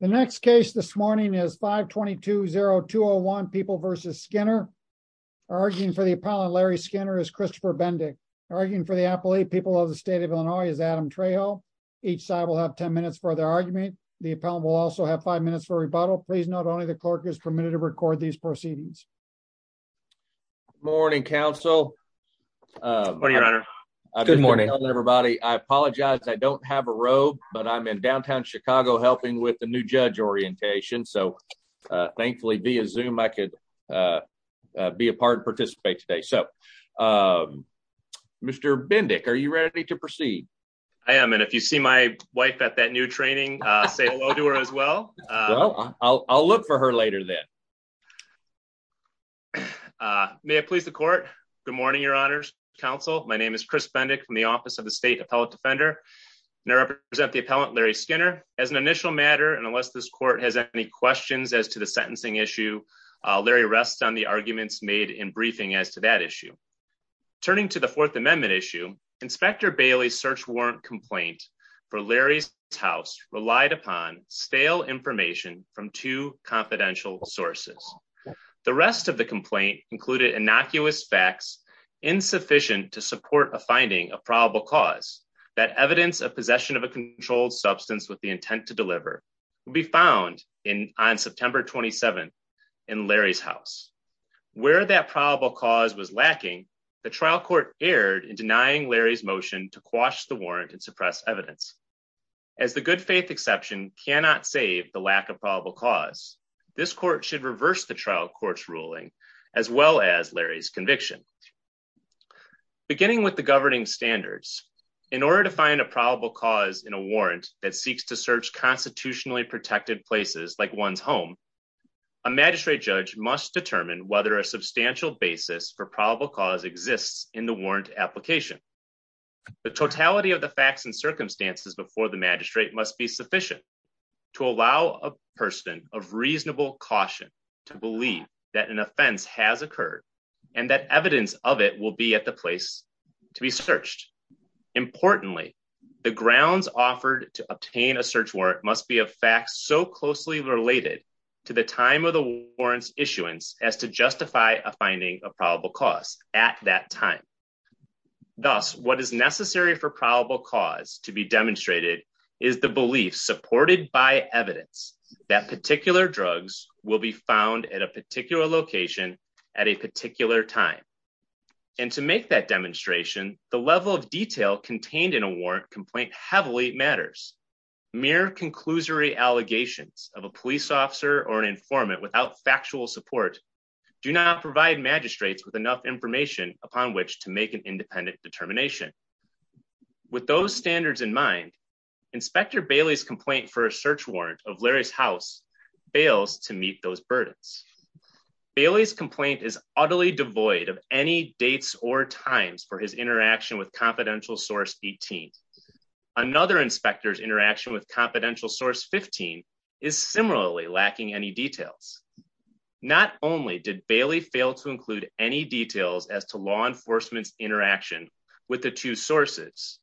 The next case this morning is 520201 people versus Skinner. Arguing for the appellant Larry Skinner is Christopher Bendick. Arguing for the appellate people of the state of Illinois is Adam Trejo. Each side will have 10 minutes for their argument. The appellant will also have five minutes for rebuttal. Please note only the clerk is permitted to record these proceedings. Morning, counsel. Morning, your honor. Good morning, everybody. I apologize I don't have a robe, but I'm in downtown Chicago helping with the new judge orientation. So thankfully, via Zoom, I could be a part and participate today. So Mr. Bendick, are you ready to proceed? I am. And if you see my wife at that new training, say hello to her as well. I'll look for her later then. May it please the court. Good morning, your honor's counsel. My name is Chris Bendick from the Office of the State Appellate Defender. And I represent the appellant Larry Skinner. As an initial matter, and unless this court has any questions as to the sentencing issue, Larry rests on the arguments made in briefing as to that issue. Turning to the Fourth Amendment issue, Inspector Bailey's search warrant complaint for Larry's house relied upon stale information from two confidential sources. The rest of the complaint included innocuous facts insufficient to support a finding of probable cause that evidence of possession of a controlled substance with the intent to deliver will be found on September 27th in Larry's house. Where that probable cause was lacking, the trial court erred in denying Larry's motion to quash the warrant and suppress evidence. As the good faith exception cannot save the lack of probable cause, this court should reverse the trial court's ruling as well as Larry's conviction. Beginning with the governing standards, in order to find a probable cause in a warrant that seeks to search constitutionally protected places like one's home, a magistrate judge must determine whether a substantial basis for probable cause exists in the warrant application. The totality of the facts and circumstances before the magistrate must be sufficient to allow a person of reasonable caution to believe that an offense has occurred Importantly, the grounds offered to obtain a search warrant must be a fact so closely related to the time of the warrant's issuance as to justify a finding of probable cause at that time. Thus, what is necessary for probable cause to be demonstrated is the belief supported by evidence that particular drugs will be found at a particular location at a particular time. And to make that demonstration, the level of detail contained in a warrant complaint heavily matters. Mere conclusory allegations of a police officer or an informant without factual support do not provide magistrates with enough information upon which to make an independent determination. With those standards in mind, Inspector Bailey's complaint for a search warrant of Larry's house bails to meet those burdens. Bailey's complaint is utterly devoid of any dates or times for his interaction with confidential source 18. Another inspector's interaction with confidential source 15 is similarly lacking any details. Not only did Bailey fail to include any details as to law enforcement's interaction with the two sources,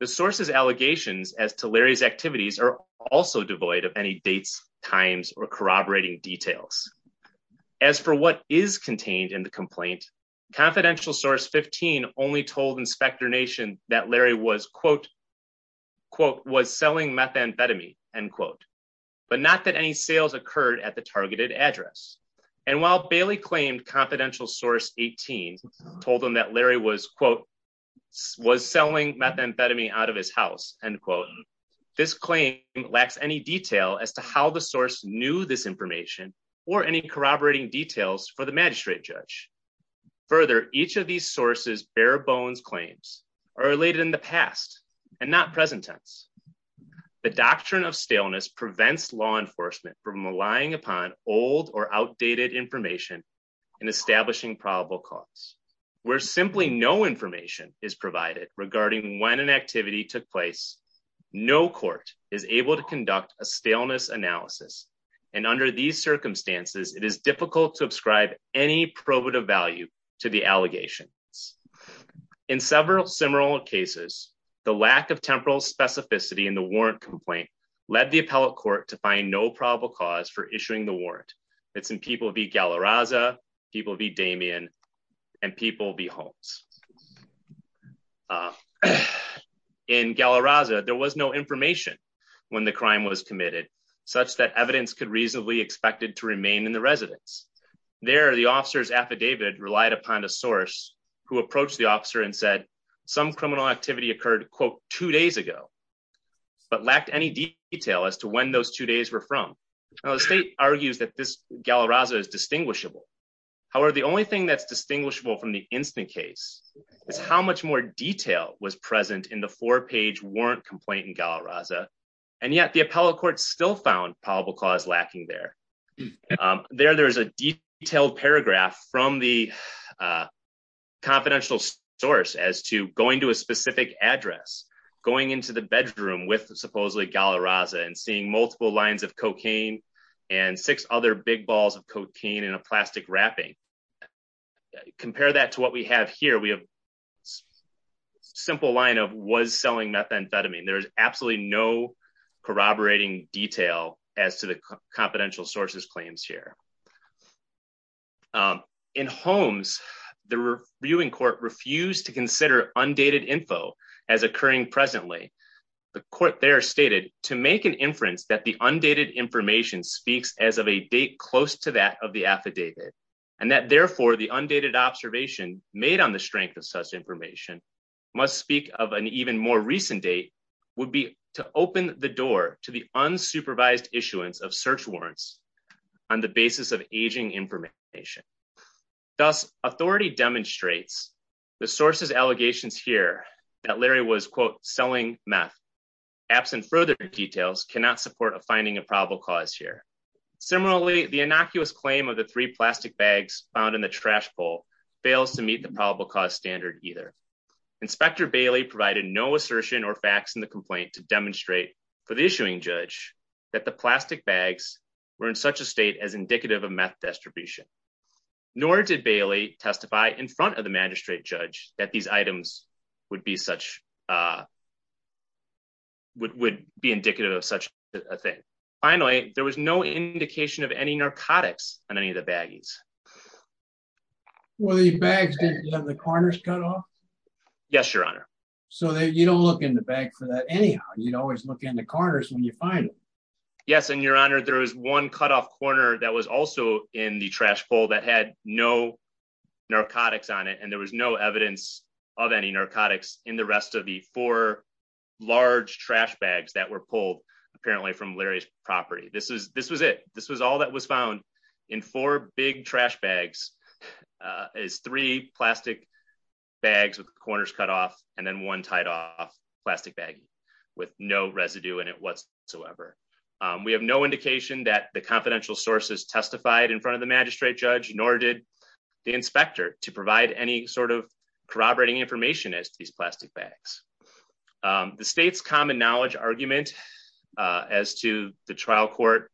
the sources allegations as to Larry's activities are also devoid of any dates, times, or corroborating details. As for what is contained in the complaint, confidential source 15 only told Inspector Nation that Larry was selling methamphetamine, but not that any sales occurred at the targeted address. And while Bailey claimed confidential source 18 told him that Larry was selling methamphetamine out of his house, this claim lacks any detail as to how the source knew this information or any corroborating details for the magistrate judge. Further, each of these sources' bare bones claims are related in the past and not present tense. The doctrine of staleness prevents law enforcement from relying upon old or outdated information in establishing probable cause. Where simply no information is provided regarding when an activity took place, no court is able to conduct a staleness analysis. And under these circumstances, it is difficult to ascribe any probative value to the allegations. In several similar cases, the lack of temporal specificity in the warrant complaint led the appellate court to find no probable cause for issuing the warrant. It's in people v. Galarraza, people v. Damien, and people v. Holmes. In Galarraza, there was no information when the crime was committed, such that evidence could reasonably expected to remain in the residence. There, the officer's affidavit relied upon a source who approached the officer and said some criminal activity occurred, quote, two days ago, but lacked any detail as to when those two days were from. Now, the state argues that this Galarraza is distinguishable. However, the only thing that's distinguishable from the instant case is how much more detail was present in the four-page warrant complaint in Galarraza, and yet the appellate court still found probable cause lacking there. There, there's a detailed paragraph from the confidential source as to going to a specific address, going into the bedroom with supposedly Galarraza and seeing multiple lines of cocaine and six other big balls of cocaine in a plastic wrapping. Compare that to what we have here. We have a simple line of was selling methamphetamine. There's absolutely no corroborating detail as to the confidential sources claims here. In Holmes, the viewing court refused to consider undated info as occurring presently. The court there stated, to make an inference that the undated information speaks as of a date close to that of the affidavit, and that therefore the undated observation made on the strength of such information must speak of an even more recent date, would be to open the door to the unsupervised issuance of search warrants on the basis of aging information. Thus, authority demonstrates the further details cannot support a finding of probable cause here. Similarly, the innocuous claim of the three plastic bags found in the trash bowl fails to meet the probable cause standard either. Inspector Bailey provided no assertion or facts in the complaint to demonstrate for the issuing judge that the plastic bags were in such a state as indicative of meth distribution. Nor did Bailey testify in front of the magistrate judge that these items would be such, uh, would be indicative of such a thing. Finally, there was no indication of any narcotics on any of the baggies. Well, the bags didn't have the corners cut off? Yes, your honor. So you don't look in the bag for that anyhow. You'd always look in the corners when you find it. Yes, and your honor, there was one cut off corner that was also in the trash bowl that had no narcotics on it, and there was no evidence of any narcotics in the rest of the four large trash bags that were pulled apparently from Larry's property. This is, this was it. This was all that was found in four big trash bags, uh, is three plastic bags with corners cut off and then one tied off plastic baggie with no residue in it whatsoever. Um, we have no indication that the confidential sources testified in front of the magistrate judge, nor did the inspector to provide any sort of corroborating information as to these plastic bags. Um, the state's common knowledge argument, uh, as to the trial court,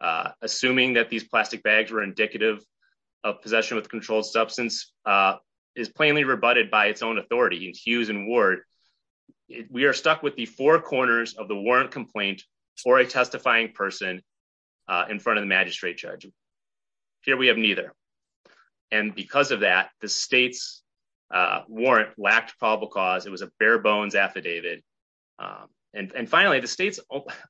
uh, assuming that these plastic bags were indicative of possession with controlled substance, uh, is plainly rebutted by its own authority in Hughes and Ward. We are stuck with the four corners of the warrant complaint or a testifying person, uh, in front of the magistrate judge here, we have neither. And because of that, the state's, uh, warrant lacked probable cause it was a bare bones affidavit. Um, and, and finally the state's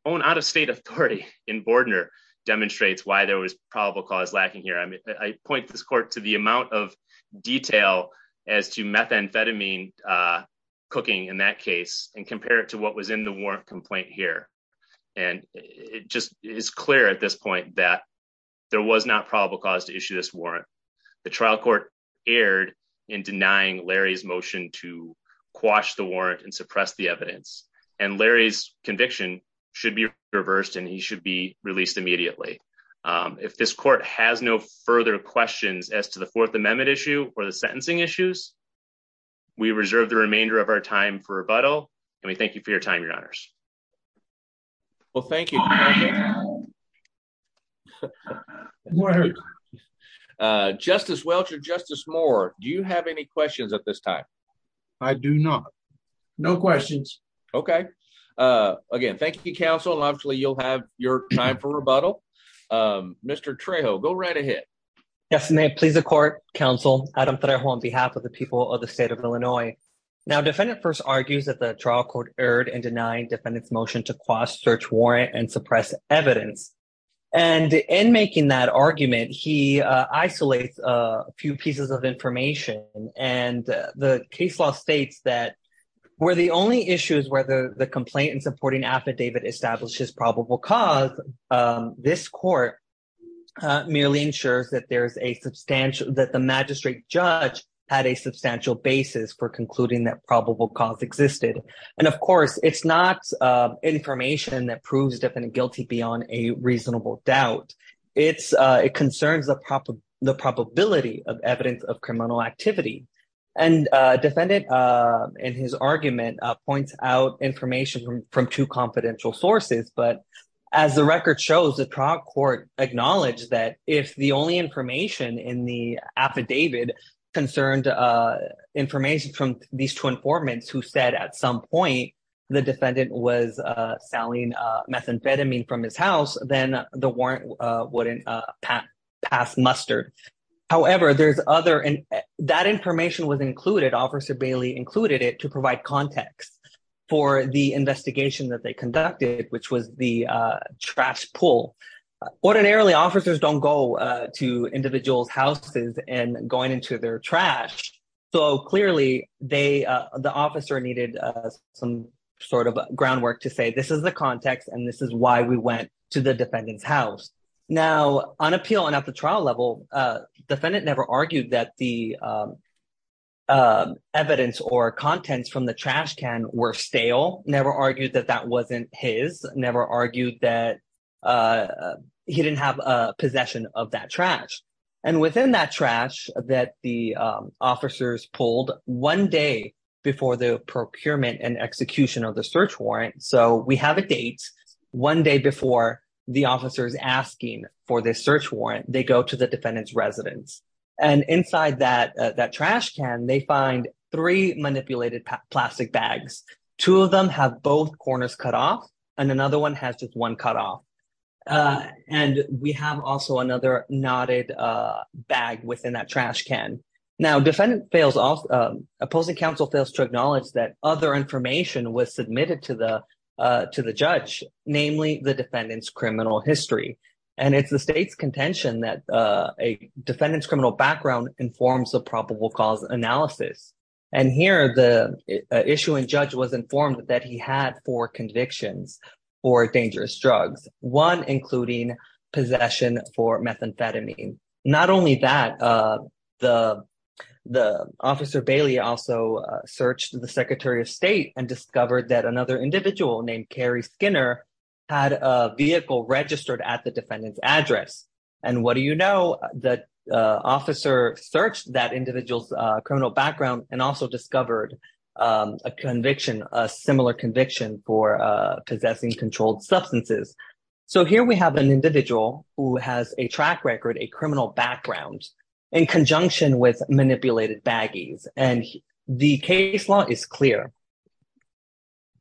own out of state authority in Bordner demonstrates why there was probable cause lacking here. I mean, I point this court to the amount of detail as to methamphetamine, uh, cooking in that case and compare it to what was in the warrant complaint here. And it just is clear at this point that there was not probable cause to issue this warrant. The trial court erred in denying Larry's motion to quash the warrant and suppress the evidence and Larry's conviction should be reversed and he should be released immediately. Um, if this court has no further questions as to the fourth amendment issue or the sentencing issues, we reserve the remainder of our time for rebuttal and we thank you for your time. Your honors. Well, thank you. Justice Welch or justice more. Do you have any questions at this time? I do not. No questions. Okay. Uh, again, thank you. Counsel. Obviously you'll have your time for rebuttal. Um, Mr. Trejo go right ahead. Yes, ma'am. Please. The court counsel, Adam Trejo on behalf of the people of the state of Illinois. Now defendant first argues that the trial court erred and denying defendants motion to cross search warrant and suppress evidence. And in making that argument, he, uh, isolates, uh, a few pieces of information and the case law States that were the only issues where the complaint and supporting affidavit establishes probable cause. Um, this court, uh, merely ensures that there's a substantial, that the magistrate judge had a substantial basis for concluding that probable cause existed. And of course, it's not, uh, information that proves definite guilty beyond a reasonable doubt. It's, uh, it concerns the proper, the probability of evidence of criminal activity and, uh, defendant, uh, in his argument, uh, points out information from two confidential sources. But as the record shows the trial court acknowledged that if the only information in the affidavit concerned, uh, information from these two informants who said at some point, the defendant was, uh, selling, uh, methamphetamine from his house, then the warrant, uh, wouldn't, uh, pass mustard. However, there's other, and that information was included officer included it to provide context for the investigation that they conducted, which was the, uh, trash pool ordinarily officers don't go, uh, to individuals houses and going into their trash. So clearly they, uh, the officer needed, uh, some sort of groundwork to say, this is the context. And this is why we went to the defendant's house now on appeal. And at the trial level, uh, defendant never argued that the, um, um, evidence or contents from the trash can were stale, never argued that that wasn't his never argued that, uh, he didn't have a possession of that trash. And within that trash that the, um, officers pulled one day before the procurement and execution of the search warrant. So we have a date one day before the officers asking for defendant's residence. And inside that, uh, that trash can, they find three manipulated plastic bags. Two of them have both corners cut off and another one has just one cut off. Uh, and we have also another knotted, uh, bag within that trash can now defendant fails off, um, opposing council fails to acknowledge that other information was submitted to the, uh, to the judge, namely the criminal history. And it's the state's contention that, uh, a defendant's criminal background informs the probable cause analysis. And here the issue and judge was informed that he had four convictions for dangerous drugs, one, including possession for methamphetamine. Not only that, uh, the, the officer Bailey also searched the secretary of state and discovered that another individual named Carrie Skinner had a vehicle registered at the defendant's address. And what do you know that, uh, officer searched that individual's, uh, criminal background and also discovered, um, a conviction, a similar conviction for, uh, possessing controlled substances. So here we have an individual who has a track record, a criminal background in conjunction with manipulated baggies. And the case law is clear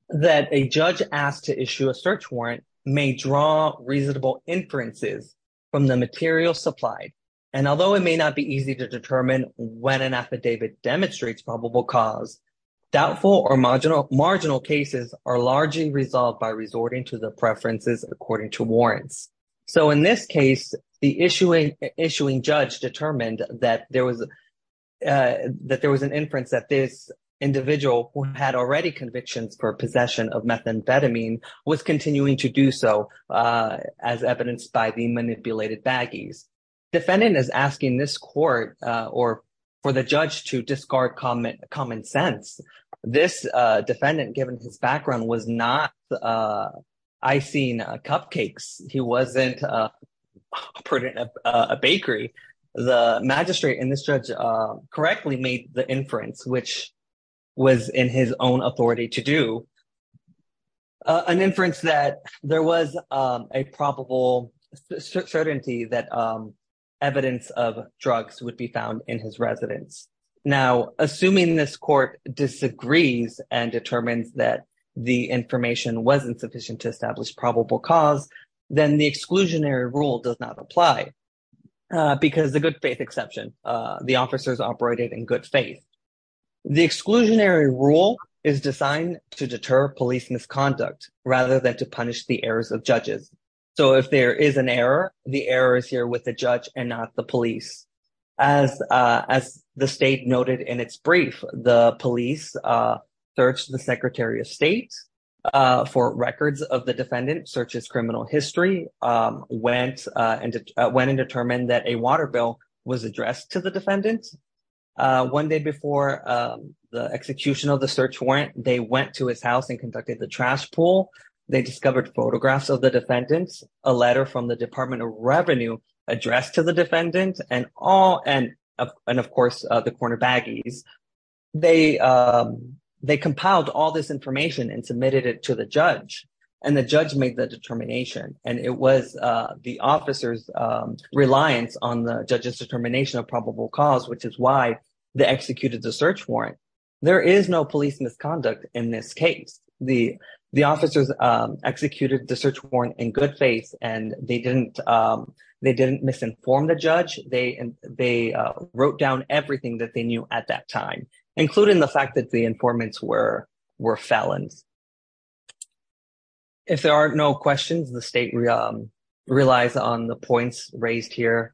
that a judge asked to issue a search warrant may draw reasonable inferences from the material supplied. And although it may not be easy to determine when an affidavit demonstrates probable cause doubtful or marginal marginal cases are largely resolved by resorting to the preferences according to warrants. So in this case, the issuing issuing judge determined that there was, uh, that there was an inference that this individual who had already convictions for possession of methamphetamine was continuing to do so, uh, as evidenced by the manipulated baggies. Defendant is asking this court, uh, or for the judge to discard common common sense. This, uh, defendant given his background was not, uh, I seen, uh, cupcakes. He wasn't, uh, put in a bakery, the magistrate and this judge, uh, correctly made the inference, which was in his own authority to do, uh, an inference that there was, um, a probable certainty that, um, evidence of drugs would be found in his residence. Now, assuming this court disagrees and determines that the information wasn't sufficient to establish probable cause, then the exclusionary rule does not apply, uh, because the good faith exception, uh, the officers operated in good faith. The exclusionary rule is designed to deter police misconduct rather than to punish the errors of judges. So if there is an error, the error is here with the judge and not the police. As, uh, as the state noted in its brief, the police, uh, searched the secretary of state, uh, for records of the defendant searches, criminal history, um, went, uh, went and determined that a water bill was addressed to the defendants. Uh, one day before, um, the execution of the search warrant, they went to his house and conducted the trash pool. They discovered photographs of the defendants, a letter from the department of revenue addressed to the defendants and all, and, uh, and of course, the corner baggies, they, um, they compiled all this information and submitted it to the judge and the judge made the determination. And it was, uh, the officer's, um, reliance on the judge's determination of probable cause, which is why they executed the search warrant. There is no police misconduct in this case. The, the officers, um, executed the search warrant in good faith and they didn't, um, they didn't misinform the judge. They, and they, uh, wrote down everything that they knew at that time, including the fact that the informants were, were felons. If there are no questions, the state, um, relies on the points raised here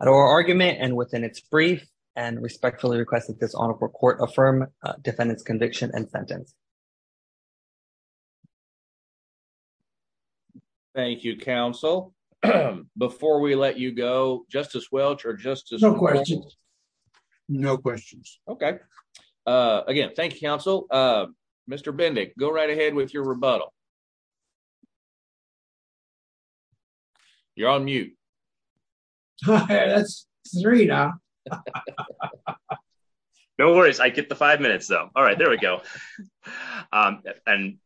at our argument and within its brief and respectfully requested this honorable court affirm a defendant's conviction and sentence. Thank you, counsel. Before we let you go, justice Welch or justice. No questions. No questions. Okay. Uh, again, thank you, counsel. Uh, Mr. Bending, go right ahead with your rebuttal. You're on mute. That's three now. No worries. I get the five minutes though. All right, there we go. Um, and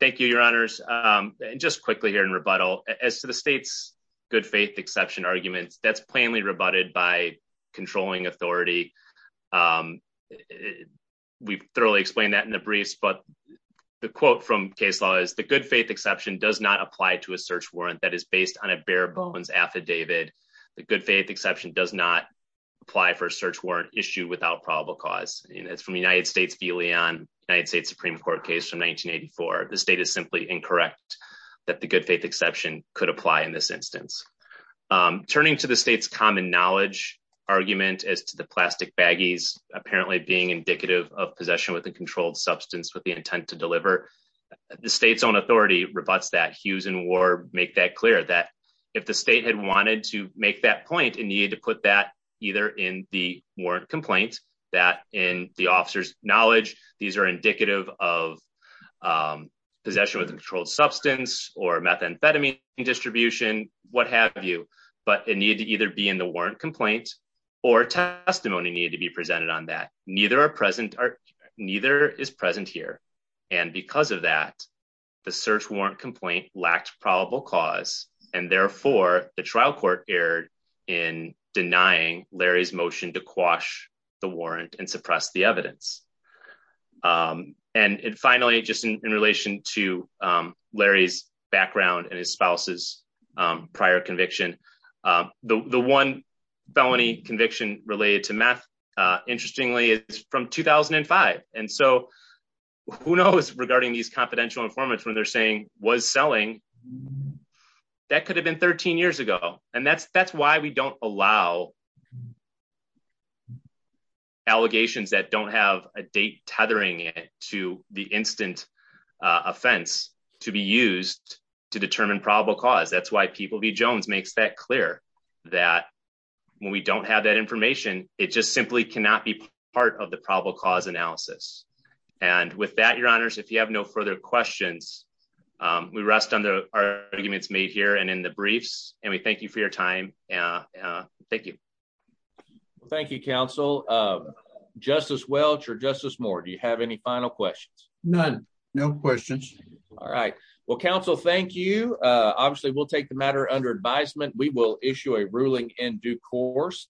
thank you, your honors. Um, and just quickly here in rebuttal as to the state's good faith, exception arguments, that's plainly rebutted by controlling authority. Um, we've thoroughly explained that in the briefs, but the quote from case law is the good faith exception does not apply to a search warrant that is based on a bare bones affidavit. The good faith exception does not apply for a search warrant issue without probable cause. And it's from the United States v Leon United States Supreme Court case from 1984. The state is simply incorrect that the good faith exception could apply in this instance. Um, turning to the state's common knowledge argument as to the plastic baggies, apparently being indicative of possession with a controlled substance with the intent to deliver the state's own authority rebutts that Hughes and Warb make that clear that if the state had wanted to make that point, it needed to put that either in the warrant complaint that in the officer's knowledge, these are indicative of, um, possession with a controlled substance or methamphetamine distribution, what have you, but it needed to either be in the warrant complaint or testimony needed to be presented on that. Neither are present or neither is present here. And because of that, the search warrant complaint lacked probable cause. And therefore the trial court erred in denying Larry's motion to quash the warrant and suppress the evidence. Um, and finally, just in relation to, um, Larry's background and his spouse's, um, prior conviction, um, the, the one felony conviction related to math, uh, interestingly it's from 2005. And so who knows regarding these confidential informants when they're saying was selling that could have been 13 years ago. And that's, that's why we don't allow allegations that don't have a date tethering to the instant, uh, offense to be used to determine probable cause. That's why people be Jones makes that clear that when we don't have that information, it just simply cannot be part of the probable cause analysis. And with that, your honors, if you have no further questions, um, we rest on the arguments made here and in the briefs, and we thank you for your time. Uh, uh, thank you. Well, thank you counsel. Um, justice Welch or justice Moore. Do you have any final questions? None. No questions. All right. Well, counsel, thank you. Uh, obviously we'll take the matter under advisement. We will issue a ruling in due course.